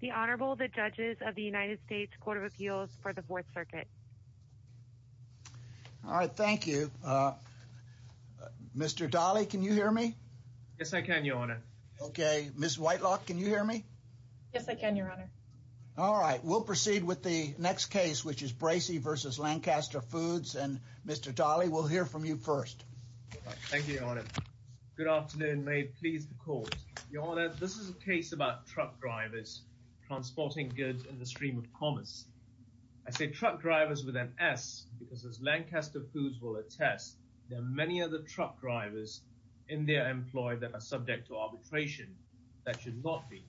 The Honorable the Judges of the United States Court of Appeals for the 4th Circuit. All right, thank you. Mr. Dahle, can you hear me? Yes, I can, Your Honor. Okay, Ms. Whitelock, can you hear me? Yes, I can, Your Honor. All right, we'll proceed with the next case, which is Bracey v. Lancaster Foods, and Mr. Dahle, we'll hear from you first. Thank you, Your Honor. Good afternoon. May it please the Court. Your Honor, this is a case about truck drivers transporting goods in the stream of commerce. I say truck drivers with an S because, as Lancaster Foods will attest, there are many other truck drivers in their employ that are subject to arbitration that should not be.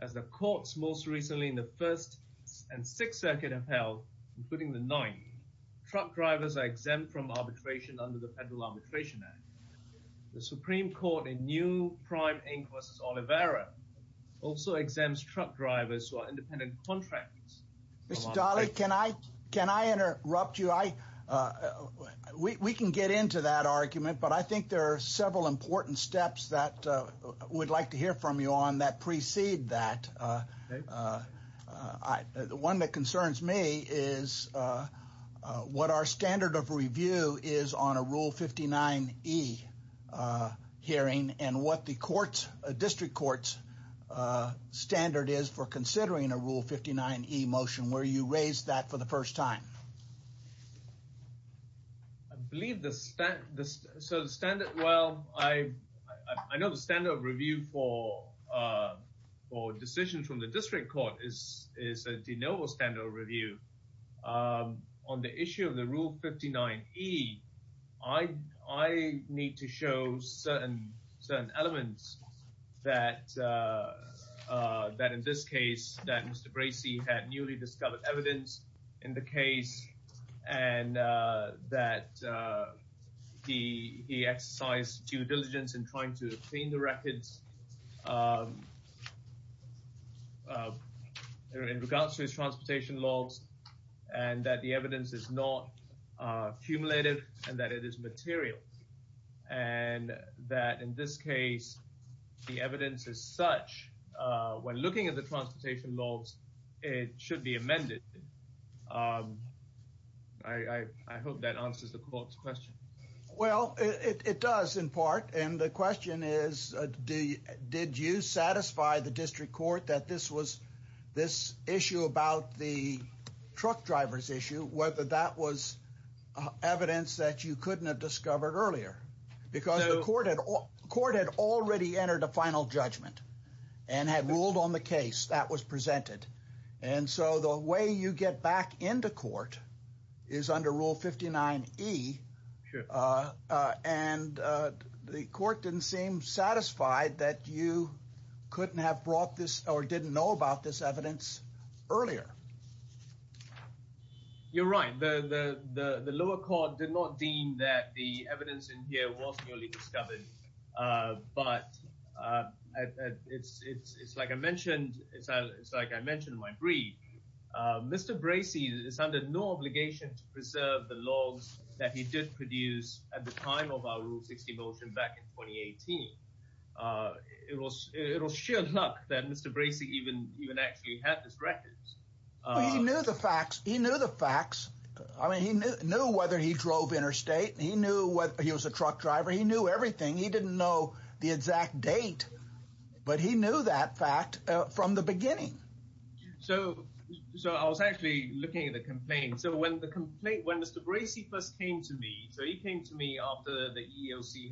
As the courts most recently in the 1st and 6th Circuit have held, including the 9th, truck drivers are exempt from arbitration under the Federal Arbitration Act. The Supreme Court, a new Prime Inc. v. Olivera, also exempts truck drivers who are independent contractors. Mr. Dahle, can I interrupt you? We can get into that argument, but I think there are several important steps that we'd like to hear from you on that precede that. The one that concerns me is what our standard of district court is for considering a Rule 59E motion, where you raised that for the first time. I know the standard of review for decisions from the district court is a de novo standard of review. On the issue of the Rule 59E, I need to show certain elements that, in this case, Mr. Bracey had newly discovered evidence in the case and that he exercised due diligence in trying to obtain the records in regards to his transportation laws and that the evidence is not cumulative and that it is material. And that, in this case, the evidence is such when looking at the transportation laws it should be amended. I hope that answers the court's question. Well, it does, in part, and the question is did you satisfy the district court that this issue about the truck driver's issue, whether that was evidence that you couldn't have discovered earlier? Because the court had already entered a final judgment and had ruled on the case that was presented. And so the way you get back into court is under Rule 59E, and the court didn't seem satisfied that you couldn't have brought this or didn't know about this evidence earlier. You're right. The lower court did not deem that the evidence in here was newly discovered, but it's like I mentioned in my brief, Mr. Bracey is under no obligation to preserve the laws that he did produce at the time of our Rule 60 motion back in 2018. It was sheer luck that Mr. Bracey even actually had this record. He knew the facts. He knew the facts. I mean, he knew whether he drove interstate. He knew whether he was a truck driver. He knew everything. He didn't know the exact date, but he knew that fact from the beginning. So I was actually looking at the complaint. So when Mr. Bracey first came to me, so he came to me after the EEOC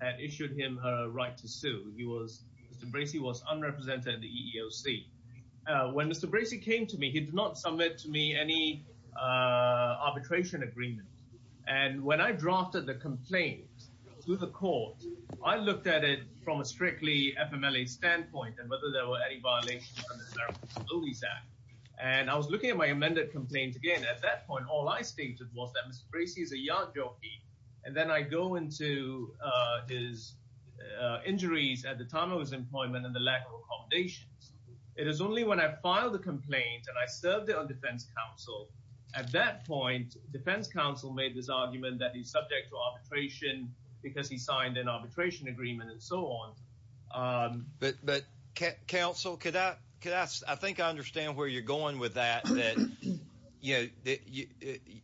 had issued him a right to sue. Mr. Bracey was unrepresented at the EEOC. When Mr. Bracey came to me, he did not submit to me any arbitration agreement. And when I drafted the complaint to the court, I looked at it from a strictly FMLA standpoint and whether there were any violations from the Terrible Disabilities Act. And I was looking at my amended complaints again. At that point, all I stated was that Mr. Bracey is a yard jockey. And then I go into his injuries at the employment and the lack of accommodations. It is only when I filed the complaint and I served it on defense counsel. At that point, defense counsel made this argument that he's subject to arbitration because he signed an arbitration agreement and so on. But counsel, could I, could I, I think I understand where you're going with that, that, you know, that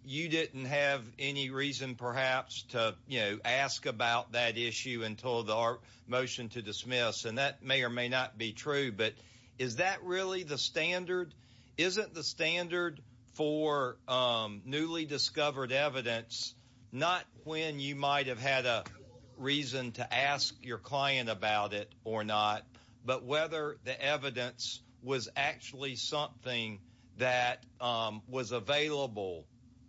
you didn't have any reason perhaps to, you know, ask about that issue until the motion to dismiss. And that may or may not be true. But is that really the standard? Isn't the standard for newly discovered evidence not when you might have had a reason to ask your client about it or not, but whether the evidence was actually something that was available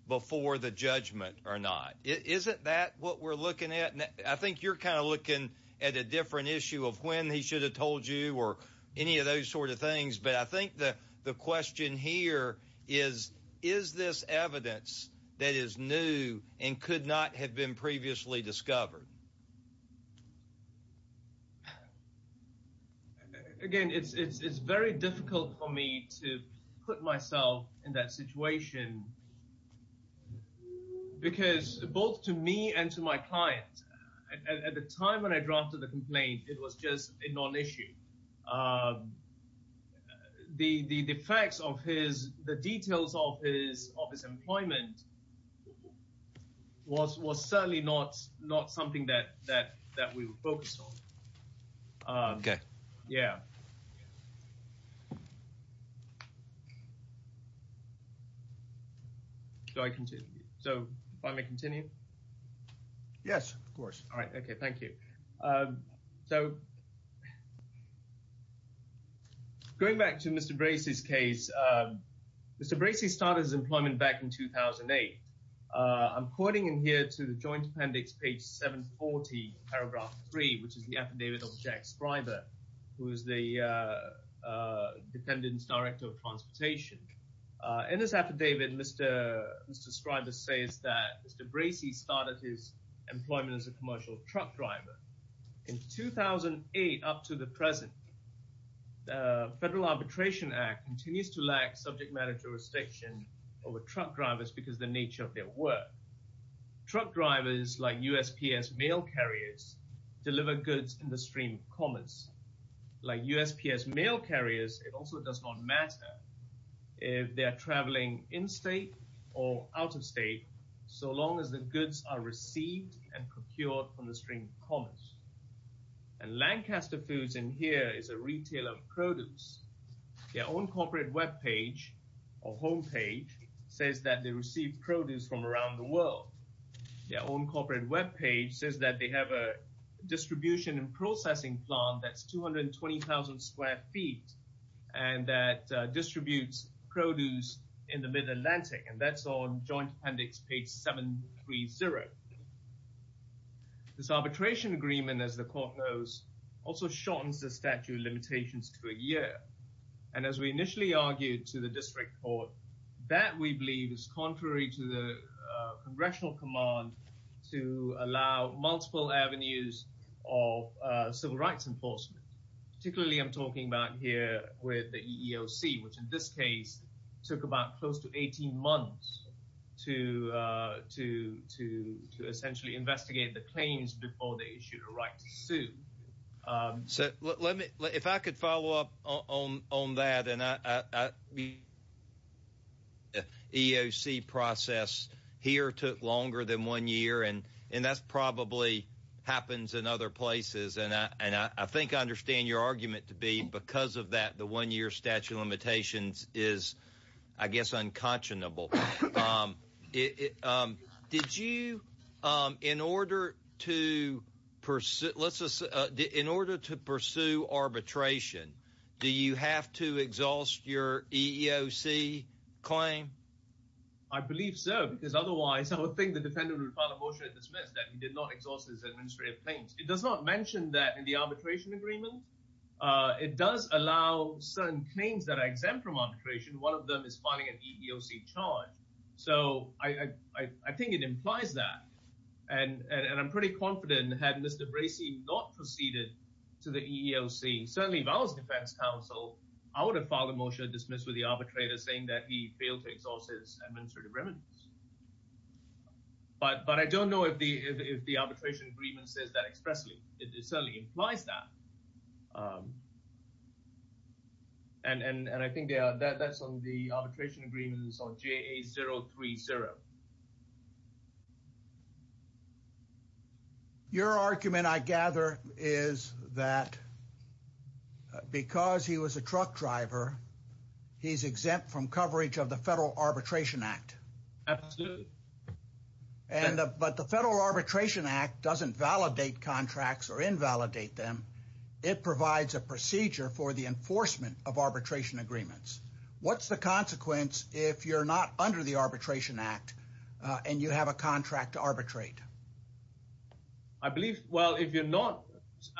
before the judgment or not? Isn't that what we're looking at? I think you're kind of looking at a different issue of when he should have told you or any of those sort of things. But I think that the question here is, is this evidence that is new and could not have been previously discovered? Again, it's very difficult for me to put myself in that situation because both to me and to my client, at the time when I drafted the complaint, it was just a non-issue. The effects of his, the details of his employment was certainly not something that we were focused on. Okay. Yeah. Do I continue? So if I may continue? Yes, of course. All right. Okay. Thank you. So going back to Mr. Bracey's case, Mr. Bracey started his employment back in 2008. I'm quoting in here to the Joint Appendix, page 740, paragraph 3, which is the affidavit of Jack Defendant's Director of Transportation. In this affidavit, Mr. Scriber says that Mr. Bracey started his employment as a commercial truck driver. In 2008 up to the present, the Federal Arbitration Act continues to lack subject matter jurisdiction over truck drivers because of the nature of their work. Truck drivers, like USPS mail carriers, deliver goods in the stream of commerce. Like USPS mail carriers, it also does not matter if they are traveling in-state or out-of-state, so long as the goods are received and procured from the stream of commerce. And Lancaster Foods in here is a retailer of produce. Their own corporate webpage, or homepage, says that they receive produce from around the world. Their own corporate webpage says that they have a distribution and processing plant that's 220,000 square feet and that distributes produce in the Mid-Atlantic, and that's on Joint Appendix, page 730. This arbitration agreement, as the Court knows, also shortens the statute of limitations to a year. And as we initially argued to the District Court, that, we believe, is contrary to the multiple avenues of civil rights enforcement. Particularly I'm talking about here with the EEOC, which in this case took about close to 18 months to essentially investigate the claims before they issued a right to sue. So let me, if I could follow up on that, and the EEOC process here took longer than one year, and that probably happens in other places, and I think I understand your argument to be because of that, the one-year statute of limitations is, I guess, unconscionable. Did you, in order to pursue arbitration, do you have to exhaust your EEOC claim? I believe so, because otherwise I would think the defendant would file a motion to dismiss that he did not exhaust his administrative claims. It does not mention that in the arbitration agreement. It does allow certain claims that are exempt from arbitration. One of them is filing an EEOC charge. So I think it implies that, and I'm pretty confident had Mr. Bracey not proceeded to the EEOC, certainly if I was defense counsel, I would have filed a motion to dismiss with the administrative remedies. But I don't know if the arbitration agreement says that expressly. It certainly implies that, and I think that's on the arbitration agreements on JA030. Your argument, I gather, is that because he was a truck driver, he's exempt from coverage of the Federal Arbitration Act. Absolutely. But the Federal Arbitration Act doesn't validate contracts or invalidate them. It provides a procedure for the enforcement of arbitration agreements. What's the consequence if you're not under the Arbitration Act and you have a contract to arbitrate? I believe, well, if you're not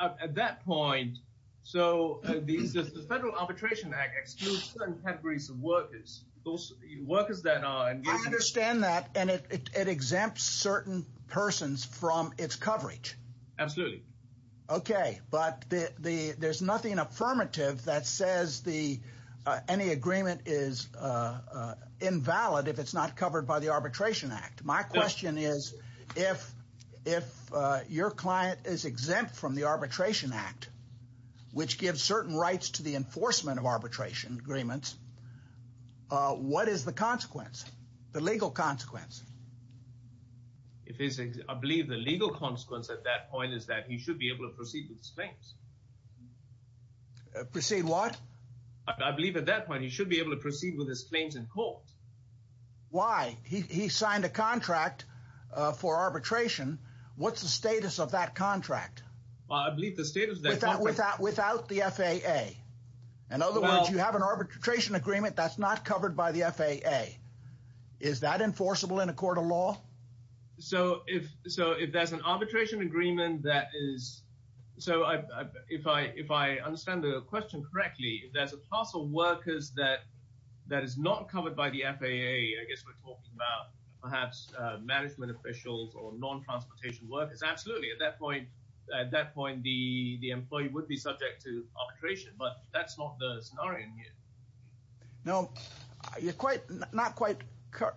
at that point, so the Federal Arbitration Act excludes certain categories of workers, those workers that are- I understand that, and it exempts certain persons from its coverage. Absolutely. Okay, but there's nothing affirmative that says any agreement is invalid if it's not if your client is exempt from the Arbitration Act, which gives certain rights to the enforcement of arbitration agreements. What is the consequence, the legal consequence? I believe the legal consequence at that point is that he should be able to proceed with his claims. Proceed what? I believe at that point he should be able to proceed with his claims in court. Why? He signed a contract for arbitration. What's the status of that contract? Well, I believe the status of that contract- Without the FAA. In other words, you have an arbitration agreement that's not covered by the FAA. Is that enforceable in a court of law? So if there's an arbitration agreement that is, so if I understand the question correctly, there's a class of workers that is not covered by the FAA. I guess we're talking about perhaps management officials or non-transportation workers. Absolutely, at that point the employee would be subject to arbitration, but that's not the scenario here. No, you're not quite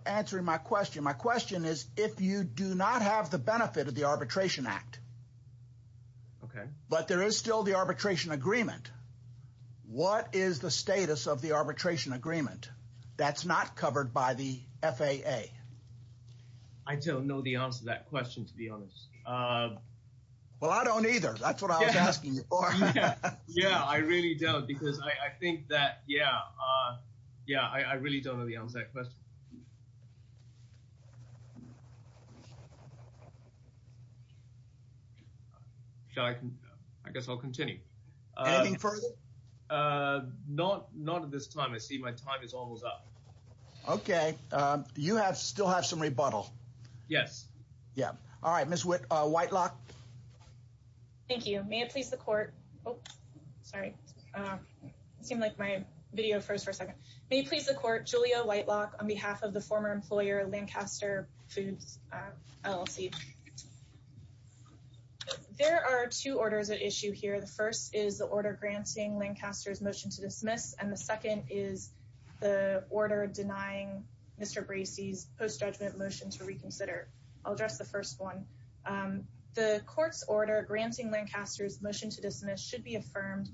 answering my question. My question is, if you do not have the benefit of the Arbitration Act, but there is still the arbitration agreement, what is the status of the arbitration agreement that's not covered by the FAA? I don't know the answer to that question, to be honest. Well, I don't either. That's what I was asking you for. Yeah, I really don't because I think that, yeah, I really don't know the answer to that question. I guess I'll continue. Anything further? Not at this time. I see my time is almost up. Okay, you have still have some rebuttal. Yes. Yeah. All right, Ms. Whitlock. Thank you. May it please the court. Oh, sorry. It seemed like my video froze for a second. May it please the court, Julia Whitlock on behalf of the former employer Lancaster Foods LLC. Okay. There are two orders at issue here. The first is the order granting Lancaster's motion to dismiss, and the second is the order denying Mr. Bracey's post-judgment motion to reconsider. I'll address the first one. The court's order granting Lancaster's motion to dismiss should be affirmed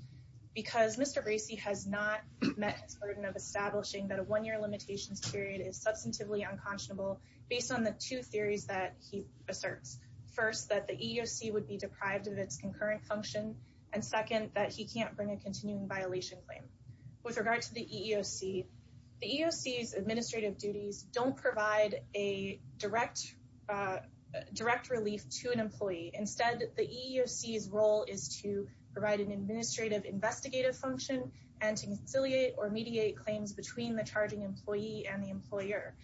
because Mr. Bracey has not met his burden of establishing that a one-year limitations period is substantively unconscionable based on the two theories that he asserts. First, that the EEOC would be deprived of its concurrent function, and second, that he can't bring a continuing violation claim. With regard to the EEOC, the EEOC's administrative duties don't provide a direct relief to an employee. Instead, the EEOC's role is to provide an administrative investigative function and to the employer.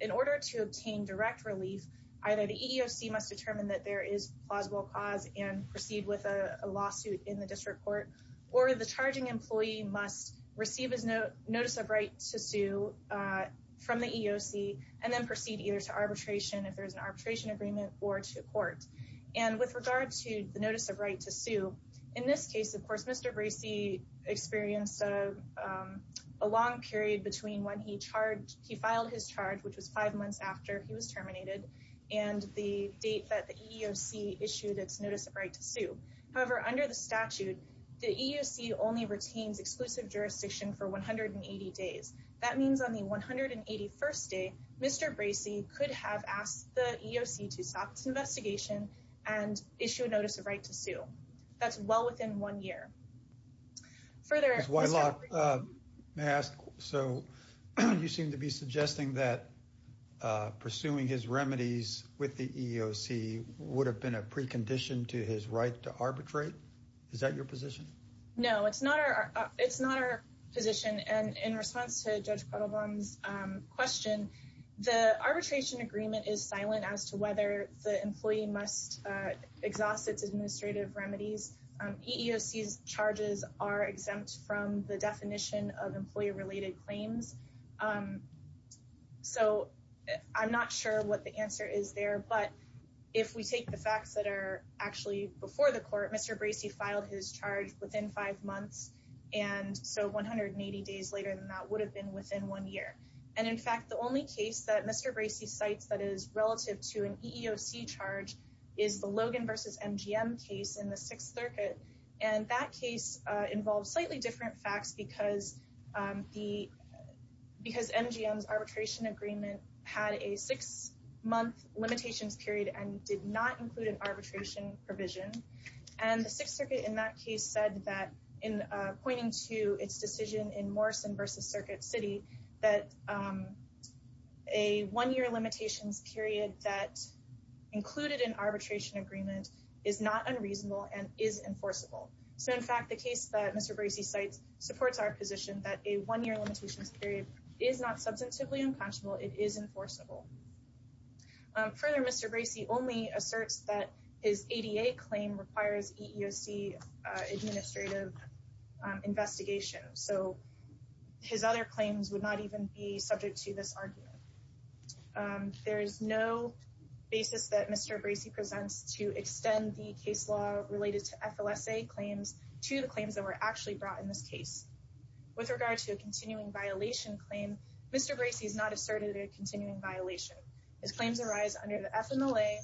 In order to obtain direct relief, either the EEOC must determine that there is plausible cause and proceed with a lawsuit in the district court, or the charging employee must receive his notice of right to sue from the EEOC and then proceed either to arbitration, if there's an arbitration agreement, or to court. And with regard to the notice of right to sue, in this case, of course, Mr. Bracey experienced a long period between when he filed his charge, which was five months after he was terminated, and the date that the EEOC issued its notice of right to sue. However, under the statute, the EEOC only retains exclusive jurisdiction for 180 days. That means on the 181st day, Mr. Bracey could have asked the EEOC to stop investigation and issue a notice of right to sue. That's well within one year. Further, Ms. Whitelock, may I ask, so you seem to be suggesting that pursuing his remedies with the EEOC would have been a precondition to his right to arbitrate? Is that your position? No, it's not our, it's not our position. And in response to Judge Cuddlebaum's question, the arbitration agreement is silent as to whether the employee must exhaust its administrative remedies. EEOC's charges are exempt from the definition of employee-related claims. So I'm not sure what the answer is there, but if we take the facts that are actually before the court, Mr. Bracey filed his charge within five months, and so 180 days later than that would have been within one year. And in fact, the only case that Mr. Bracey cites that is relative to an EEOC charge is the Logan v. MGM case in the Sixth Circuit. And that case involved slightly different facts because MGM's arbitration agreement had a six-month limitations period and did not include an arbitration provision. And the Sixth Circuit in that case said that in pointing to its decision in Morrison v. Circuit City that a one-year limitations period that included an arbitration agreement is not unreasonable and is enforceable. So in fact, the case that Mr. Bracey cites supports our position that a one-year limitations period is not substantively unconscionable, it is enforceable. Further, Mr. Bracey only asserts that his ADA claim requires EEOC administrative investigation, so his other claims would not even be subject to this argument. There is no basis that Mr. Bracey presents to extend the case law related to FLSA claims to the claims that were actually brought in this case. With regard to a continuing violation claim, Mr. Bracey has not asserted a continuing violation. His claims arise under the FMLA,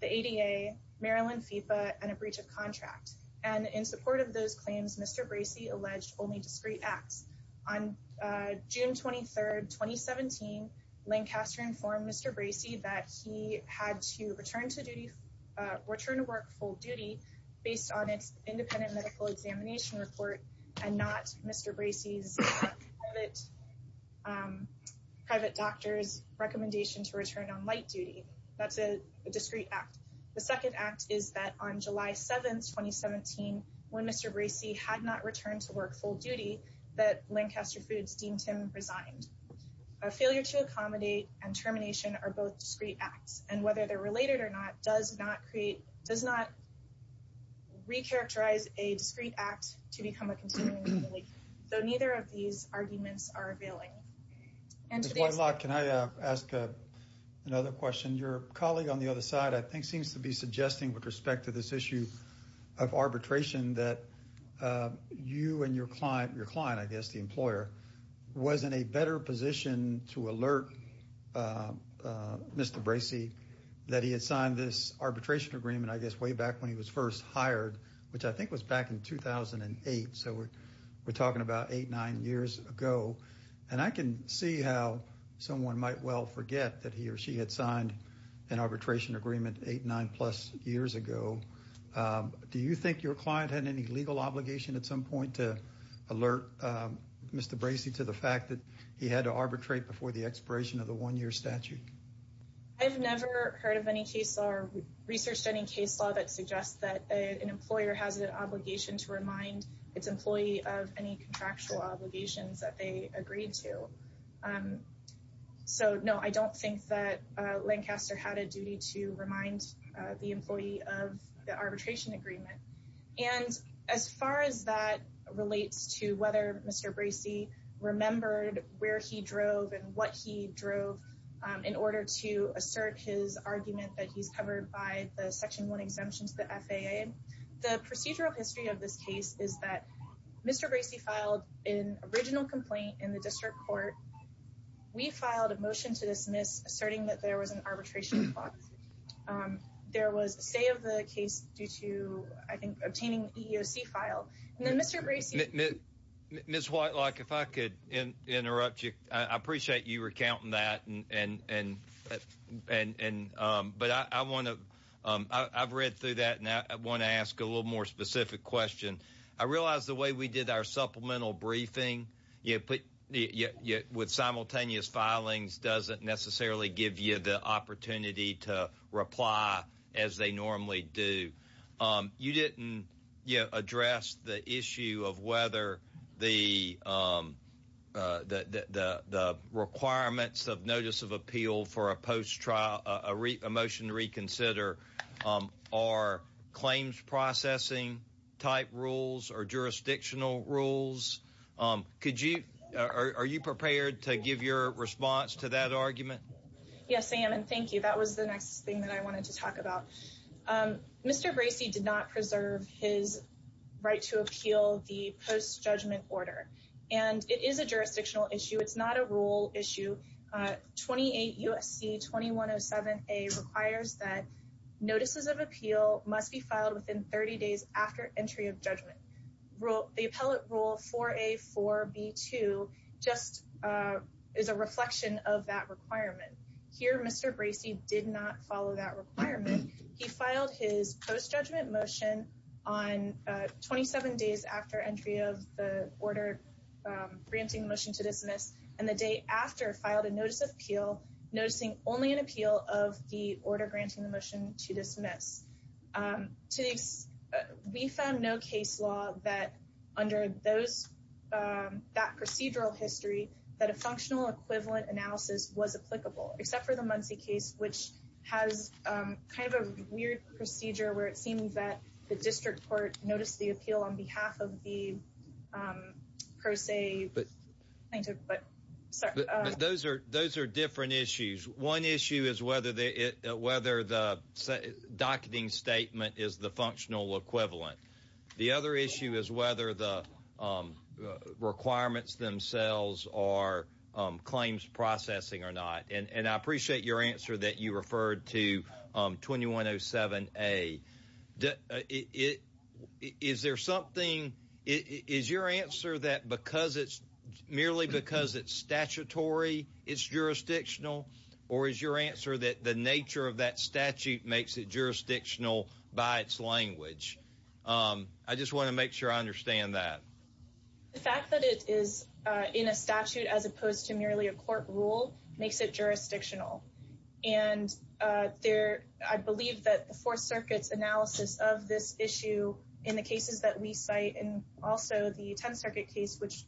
the ADA, Maryland FEPA, and a breach of contract. And in support of those claims, Mr. Bracey alleged only discrete acts. On June 23, 2017, Lancaster informed Mr. Bracey that he had to return to work full duty based on its independent medical examination report and not Mr. Bracey's private doctor's recommendation to return on light duty. That's a discrete act. The second act is that on July 7, 2017, when Mr. Bracey had not returned to work full duty, that Lancaster Foods deemed him resigned. A failure to accommodate and termination are both discrete acts, and whether they're related or not does not recharacterize a discrete act to become a continuing violation, though neither of these arguments are availing. Ms. Whitelock, can I ask another question? Your colleague on the other side, I think, seems to be suggesting with respect to this issue of arbitration that you and your client, your client, I guess, the employer, was in a better position to alert Mr. Bracey that he had signed this arbitration agreement, I guess, way back when he was first hired, which I think was back in 2008, so we're talking about eight, nine years ago, and I can see how someone might well forget that he or she had signed an arbitration agreement eight, nine plus years ago. Do you think your client had any legal obligation at some point to alert Mr. Bracey to the fact that he had to arbitrate before the expiration of the one-year statute? I've never heard of any case or researched any case law that suggests that an employer has an obligation to remind its employee of any contractual obligations that they agreed to. So, no, I don't think that Lancaster had a duty to remind the employee of the arbitration agreement, and as far as that relates to whether Mr. Bracey remembered where he drove and what he drove in order to assert his argument that he's covered by the Section 1 exemption to the FAA, the procedural history of this case is that Mr. Bracey filed an original complaint in the district court. We filed a motion to dismiss, asserting that there was an arbitration clause. There was a say of the case due to, I think, obtaining the EEOC file, and then Mr. Bracey... Ms. Whitelock, if I could interrupt you, I appreciate you recounting that, and... But I want to... I've read through that, and I want to ask a little more specific question. I realize the way we did our supplemental briefing with simultaneous filings doesn't necessarily give you the opportunity to reply as they normally do. You didn't address the issue of whether the requirements of notice of appeal for a post-trial... A motion to reconsider are claims processing type rules or jurisdictional rules. Could you... Are you prepared to give your response to that argument? Yes, I am, and thank you. That was the next thing that I wanted to order, and it is a jurisdictional issue. It's not a rule issue. 28 U.S.C. 2107A requires that notices of appeal must be filed within 30 days after entry of judgment. The appellate rule 4A.4.b.2 just is a reflection of that requirement. Here, Mr. Bracey did not follow that requirement. He filed his post-judgment motion on 27 days after entry of the order granting motion to dismiss, and the day after filed a notice of appeal, noticing only an appeal of the order granting the motion to dismiss. We found no case law that under those... That procedural history that a functional equivalent analysis was applicable, except for the Muncie case, which has kind of a weird procedure where it seems that the district court noticed the appeal on behalf of the per se plaintiff, but... Those are different issues. One issue is whether the docketing statement is the functional equivalent. The other issue is whether the requirements themselves are that you referred to 2107A. Is there something... Is your answer that merely because it's statutory, it's jurisdictional, or is your answer that the nature of that statute makes it jurisdictional by its language? I just want to make sure I understand that. The fact that it is in a statute as opposed to merely a court rule makes it jurisdictional. I believe that the Fourth Circuit's analysis of this issue in the cases that we cite, and also the Tenth Circuit case, which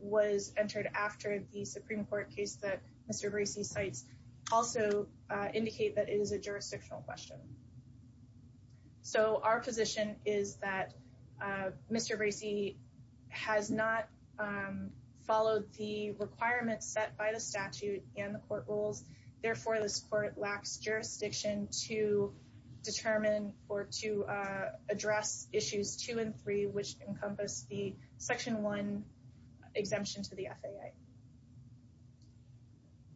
was entered after the Supreme Court case that Mr. Bracey cites, also indicate that it is a followed the requirements set by the statute and the court rules. Therefore, this court lacks jurisdiction to determine or to address issues two and three, which encompass the Section 1 exemption to the FAA.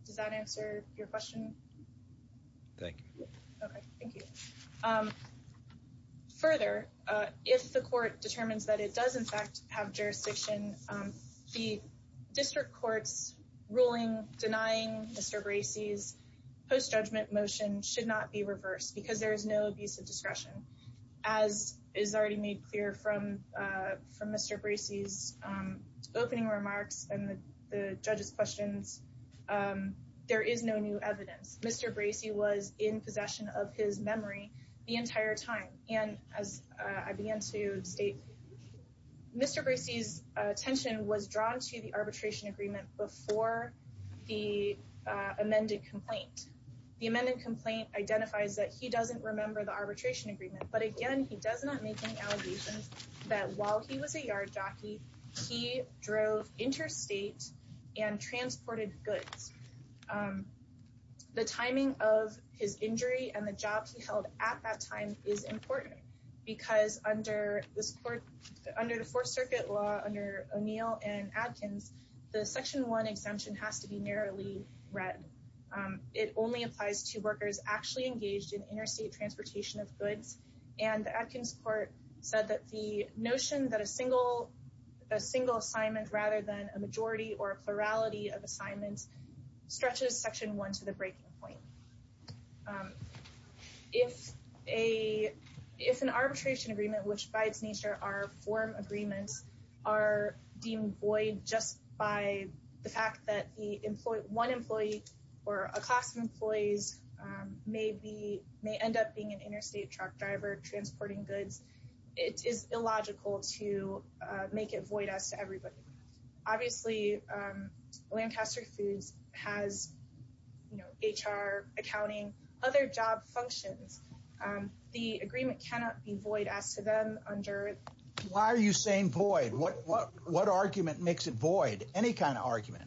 Does that answer your question? Thank you. Okay, thank you. Further, if the court determines that it does, in fact, have jurisdiction, the district courts ruling denying Mr. Bracey's post-judgment motion should not be reversed because there is no abuse of discretion. As is already made clear from Mr. Bracey's opening remarks and the judge's evidence, Mr. Bracey was in possession of his memory the entire time. And as I began to state, Mr. Bracey's attention was drawn to the arbitration agreement before the amended complaint. The amended complaint identifies that he doesn't remember the arbitration agreement, but again, he does not make any allegations that while he was a yard jockey, he drove interstate and the timing of his injury and the job he held at that time is important because under this court, under the Fourth Circuit law, under O'Neill and Adkins, the Section 1 exemption has to be narrowly read. It only applies to workers actually engaged in interstate transportation of goods. And the Adkins court said that the notion that a single assignment rather than a majority or plurality of assignments stretches Section 1 to the breaking point. If an arbitration agreement, which by its nature are form agreements, are deemed void just by the fact that one employee or a class of employees may end up being an interstate truck driver transporting goods, it is illogical to make it void as to everybody. Obviously, Lancaster Foods has, you know, HR, accounting, other job functions. The agreement cannot be void as to them under... Why are you saying void? What argument makes it void? Any kind of argument?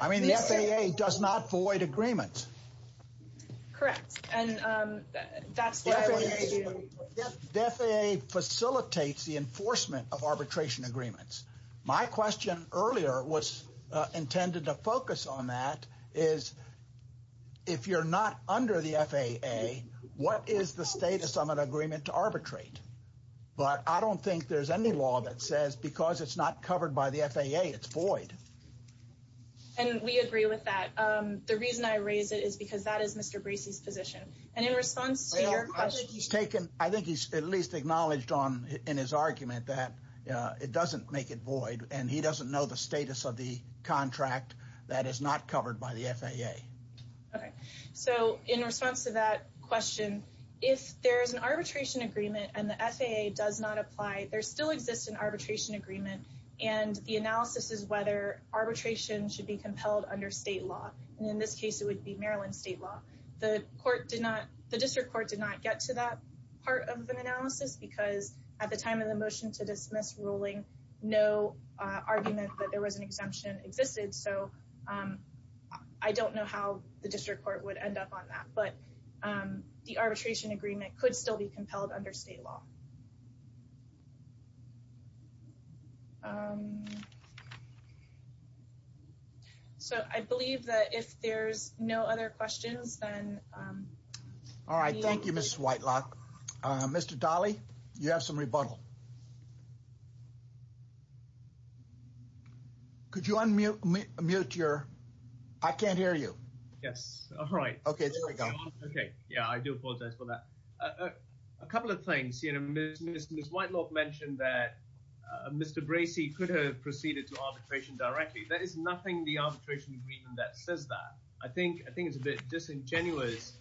I mean, the FAA does not void agreements. Correct. And that's... The FAA facilitates the enforcement of arbitration agreements. My question earlier was intended to focus on that is if you're not under the FAA, what is the status of an agreement to arbitrate? But I don't think there's any law that says because it's not covered by the FAA, it's void. And we agree with that. The reason I raise it is because that is Mr. Bracey's position. And in response to your question... I think he's at least acknowledged in his argument that it doesn't make it void, and he doesn't know the status of the contract that is not covered by the FAA. Okay. So in response to that question, if there's an arbitration agreement and the FAA does not apply, there still exists an arbitration agreement. And the analysis is whether arbitration should be compelled under state law. And in this case, it would be Maryland state law. The court did not... The district court did not get to that part of an analysis because at the time of the motion to dismiss ruling, no argument that there was an exemption existed. So I don't know how the district court would end up on that. But the arbitration agreement could still be in place. All right. Thank you, Ms. Whitelock. Mr. Dali, you have some rebuttal. Could you unmute your... I can't hear you. Yes. All right. Okay. There we go. Okay. Yeah, I do apologize for that. A couple of things. Ms. Whitelock mentioned that Mr. Bracey could have proceeded to arbitration directly. There is nothing in the arbitration agreement that says that. I think it's a bit disingenuous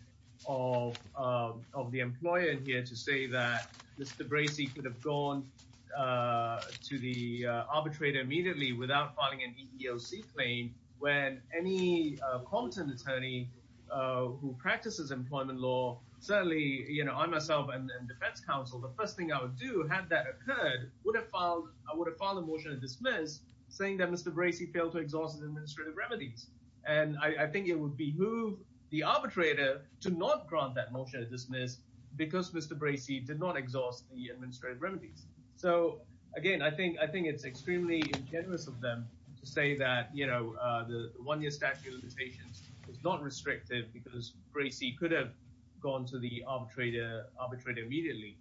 of the employer in here to say that Mr. Bracey could have gone to the arbitrator immediately without filing an EEOC claim when any Compton attorney who practices employment law, certainly I myself and defense counsel, the first thing I would do had that occurred, I would have filed a motion to dismiss saying that Mr. Bracey failed to exhaust his administrative remedies. And I think it would behoove the arbitrator to not grant that motion to dismiss because Mr. Bracey did not exhaust the administrative remedies. So again, I think it's extremely ingenuous of them to say that the one-year statute of limitations is not restrictive because Bracey could have gone to the arbitrator under the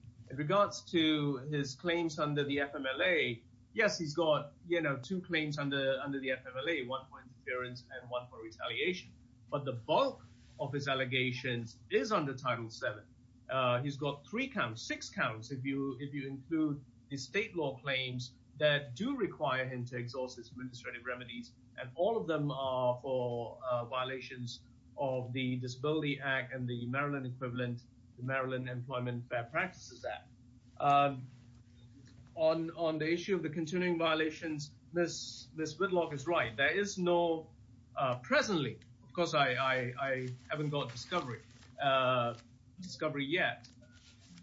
FMLA, one for interference and one for retaliation. But the bulk of his allegations is under Title VII. He's got three counts, six counts, if you include the state law claims that do require him to exhaust his administrative remedies. And all of them are for violations of the Disability Act and the Maryland equivalent, the Maryland Employment Fair Practices Act. On the issue of the continuing violations, Ms. Whitlock is right. There is no, presently, because I haven't got discovery yet.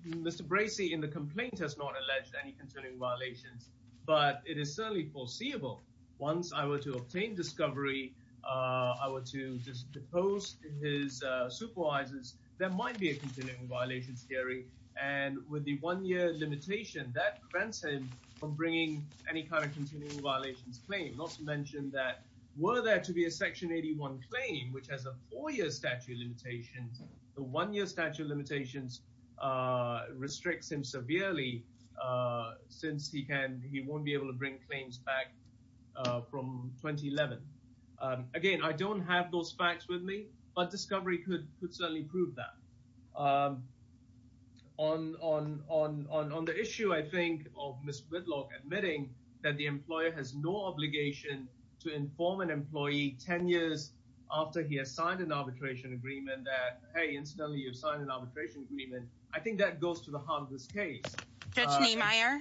Mr. Bracey in the complaint has not alleged any continuing violations, but it is certainly foreseeable. Once I were to obtain discovery, I were to just depose his supervisors, there might be a continuing violation theory. And with the one-year limitation, that prevents him from bringing any kind of continuing violations claim. Not to mention that were there to be a Section 81 claim, which has a four-year statute of limitations, the one-year statute of limitations restricts him severely since he won't be able to bring claims back from 2011. Again, I don't have those facts with me, but discovery could certainly prove that. On the issue, I think, of Ms. Whitlock admitting that the employer has no obligation to inform an employee 10 years after he has signed an arbitration agreement that, hey, incidentally, you've signed an arbitration agreement. I think that goes to the heart of this case. Judge Niemeyer,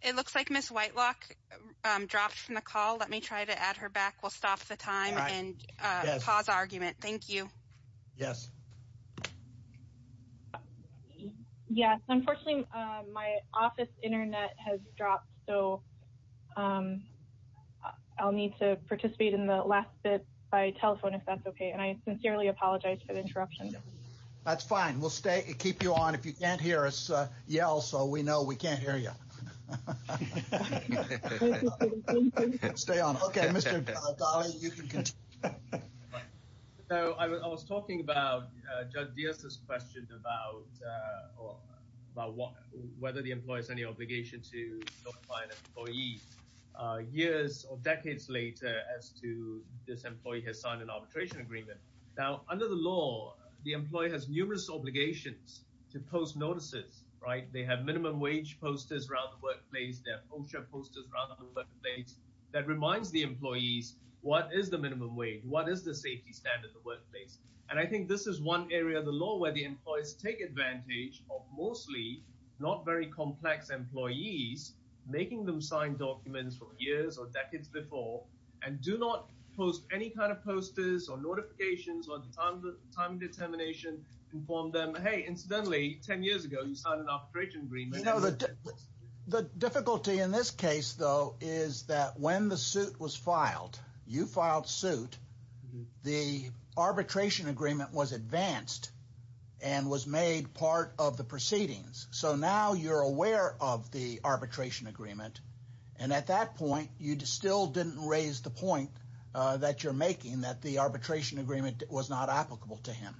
it looks like Ms. Whitlock dropped from the call. Let me try to add her back. We'll stop the time and pause argument. Thank you. Yes. Yes. Unfortunately, my office internet has dropped, so I'll need to participate in the last bit by telephone, if that's okay. And I sincerely apologize for the interruption. That's fine. We'll keep you on. If you can't hear us, yell so we know we can't hear you. Stay on. Okay. Mr. Daly, you can continue. I was talking about Judge Diaz's question about whether the employer has any obligation to notify an employee years or decades later as to this employee has signed an arbitration agreement. Now, under the law, the employer has numerous obligations to post notices, right? They have a workplace that reminds the employees, what is the minimum wage? What is the safety standard of the workplace? And I think this is one area of the law where the employees take advantage of mostly not very complex employees, making them sign documents from years or decades before, and do not post any kind of posters or notifications or time determination, inform them, hey, incidentally, 10 years ago, you signed an arbitration agreement. The difficulty in this case, though, is that when the suit was filed, you filed suit, the arbitration agreement was advanced and was made part of the proceedings. So now you're aware of the arbitration agreement. And at that point, you still didn't raise the point that you're making that the arbitration agreement was not applicable to him.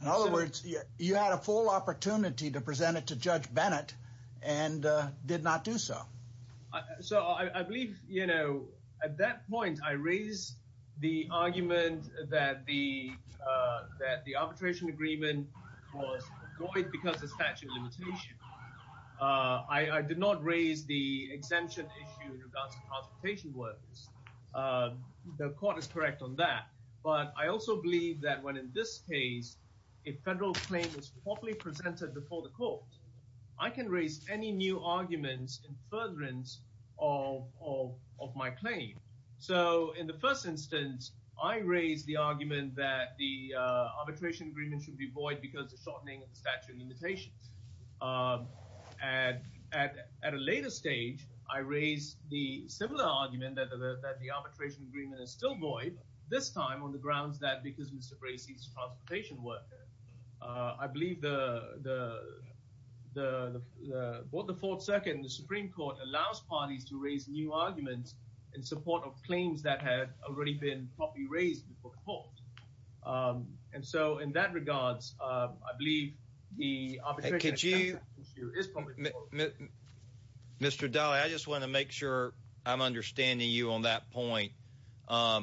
In other words, you had a opportunity to present it to Judge Bennett and did not do so. So I believe, you know, at that point, I raised the argument that the arbitration agreement was void because of statute of limitations. I did not raise the exemption issue in regards to transportation workers. The court is correct on that. But I also believe that when in this case, a federal claim is properly presented before the court, I can raise any new arguments in furtherance of my claim. So in the first instance, I raised the argument that the arbitration agreement should be void because of shortening of the statute of limitations. And at a later stage, I raised the similar argument that the arbitration agreement is still void, this time on the grounds that because Mr. Bracey's transportation worker, I believe what the Fourth Circuit and the Supreme Court allows parties to raise new arguments in support of claims that had already been properly raised before the court. And so in that regards, I believe the arbitration agreement is probably void. Mr. Daly, I just want to make sure I'm understanding you on that point. I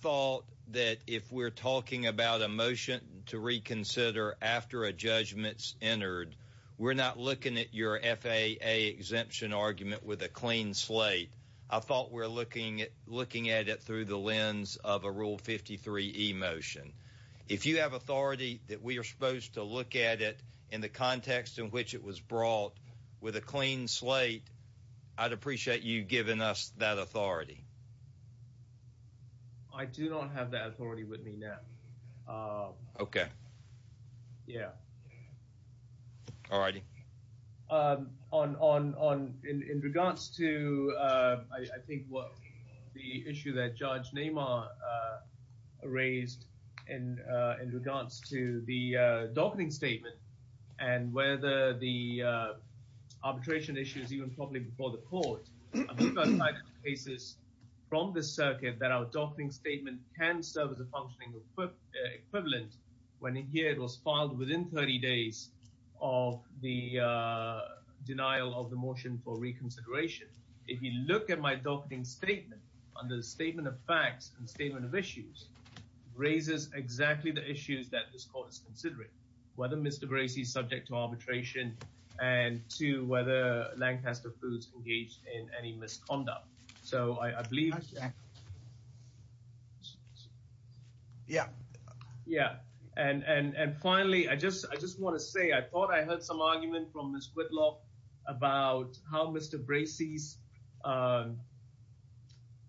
thought that if we're talking about a motion to reconsider after a judgment's entered, we're not looking at your FAA exemption argument with a clean slate. I thought we're looking at looking at it through the lens of a Rule 53e motion. If you have with a clean slate, I'd appreciate you giving us that authority. I do not have that authority with me now. Okay. Yeah. All righty. In regards to I think what the issue that Judge Neymar raised in regards to the arbitration issues, even probably before the court, I'm talking about cases from the circuit that our docketing statement can serve as a functioning equivalent when here it was filed within 30 days of the denial of the motion for reconsideration. If you look at my docketing statement under the statement of facts and statement of issues, raises exactly the issues that this court is considering, whether Mr. Bracey is subject to arbitration and to whether Lancaster Foods engaged in any misconduct. So I believe... Yeah. Yeah. And finally, I just want to say I thought I heard some argument from Ms. Whitlock about how Mr. Bracey's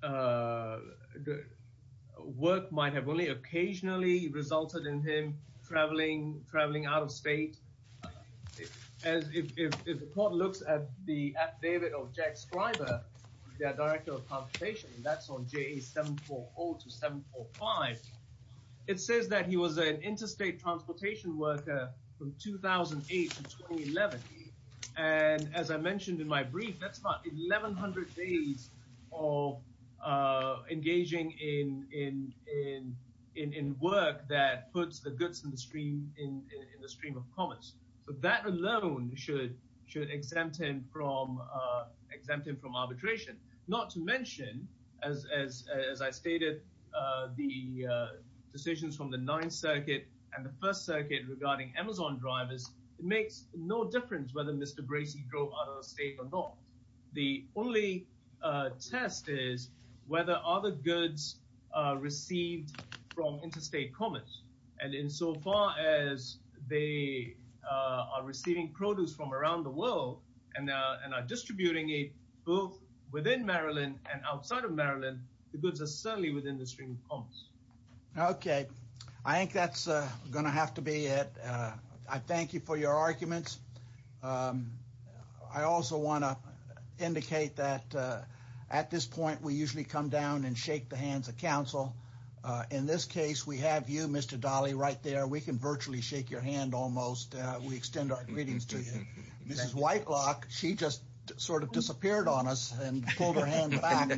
work might have only occasionally resulted in him traveling out of state. As if the court looks at the affidavit of Jack Scriber, the Director of Transportation, that's on JA 740 to 745. It says that he was an interstate transportation worker from 2008 to 2011. And as I mentioned in my brief, that's about 1100 days of engaging in work that puts the goods in the stream of commerce. So that alone should exempt him from arbitration. Not to mention, as I stated, the decisions from the Ninth Circuit and the First Amendment and Amazon drivers, it makes no difference whether Mr. Bracey drove out of the state or not. The only test is whether other goods are received from interstate commerce. And insofar as they are receiving produce from around the world and are distributing it both within Maryland and outside of Maryland, the goods are certainly within the stream of commerce. Okay. I think that's going to have to be it. I thank you for your arguments. I also want to indicate that at this point, we usually come down and shake the hands of counsel. In this case, we have you, Mr. Dahle, right there. We can virtually shake your hand almost. We extend our greetings to you. Mrs. Whitlock, she just sort of disappeared on us and pulled her hand back.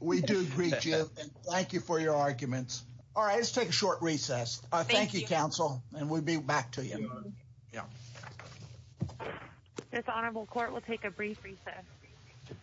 We do greet you and thank you for your arguments. All right, let's take a short recess. Thank you, counsel, and we'll be back to you. This honorable court will take a brief recess.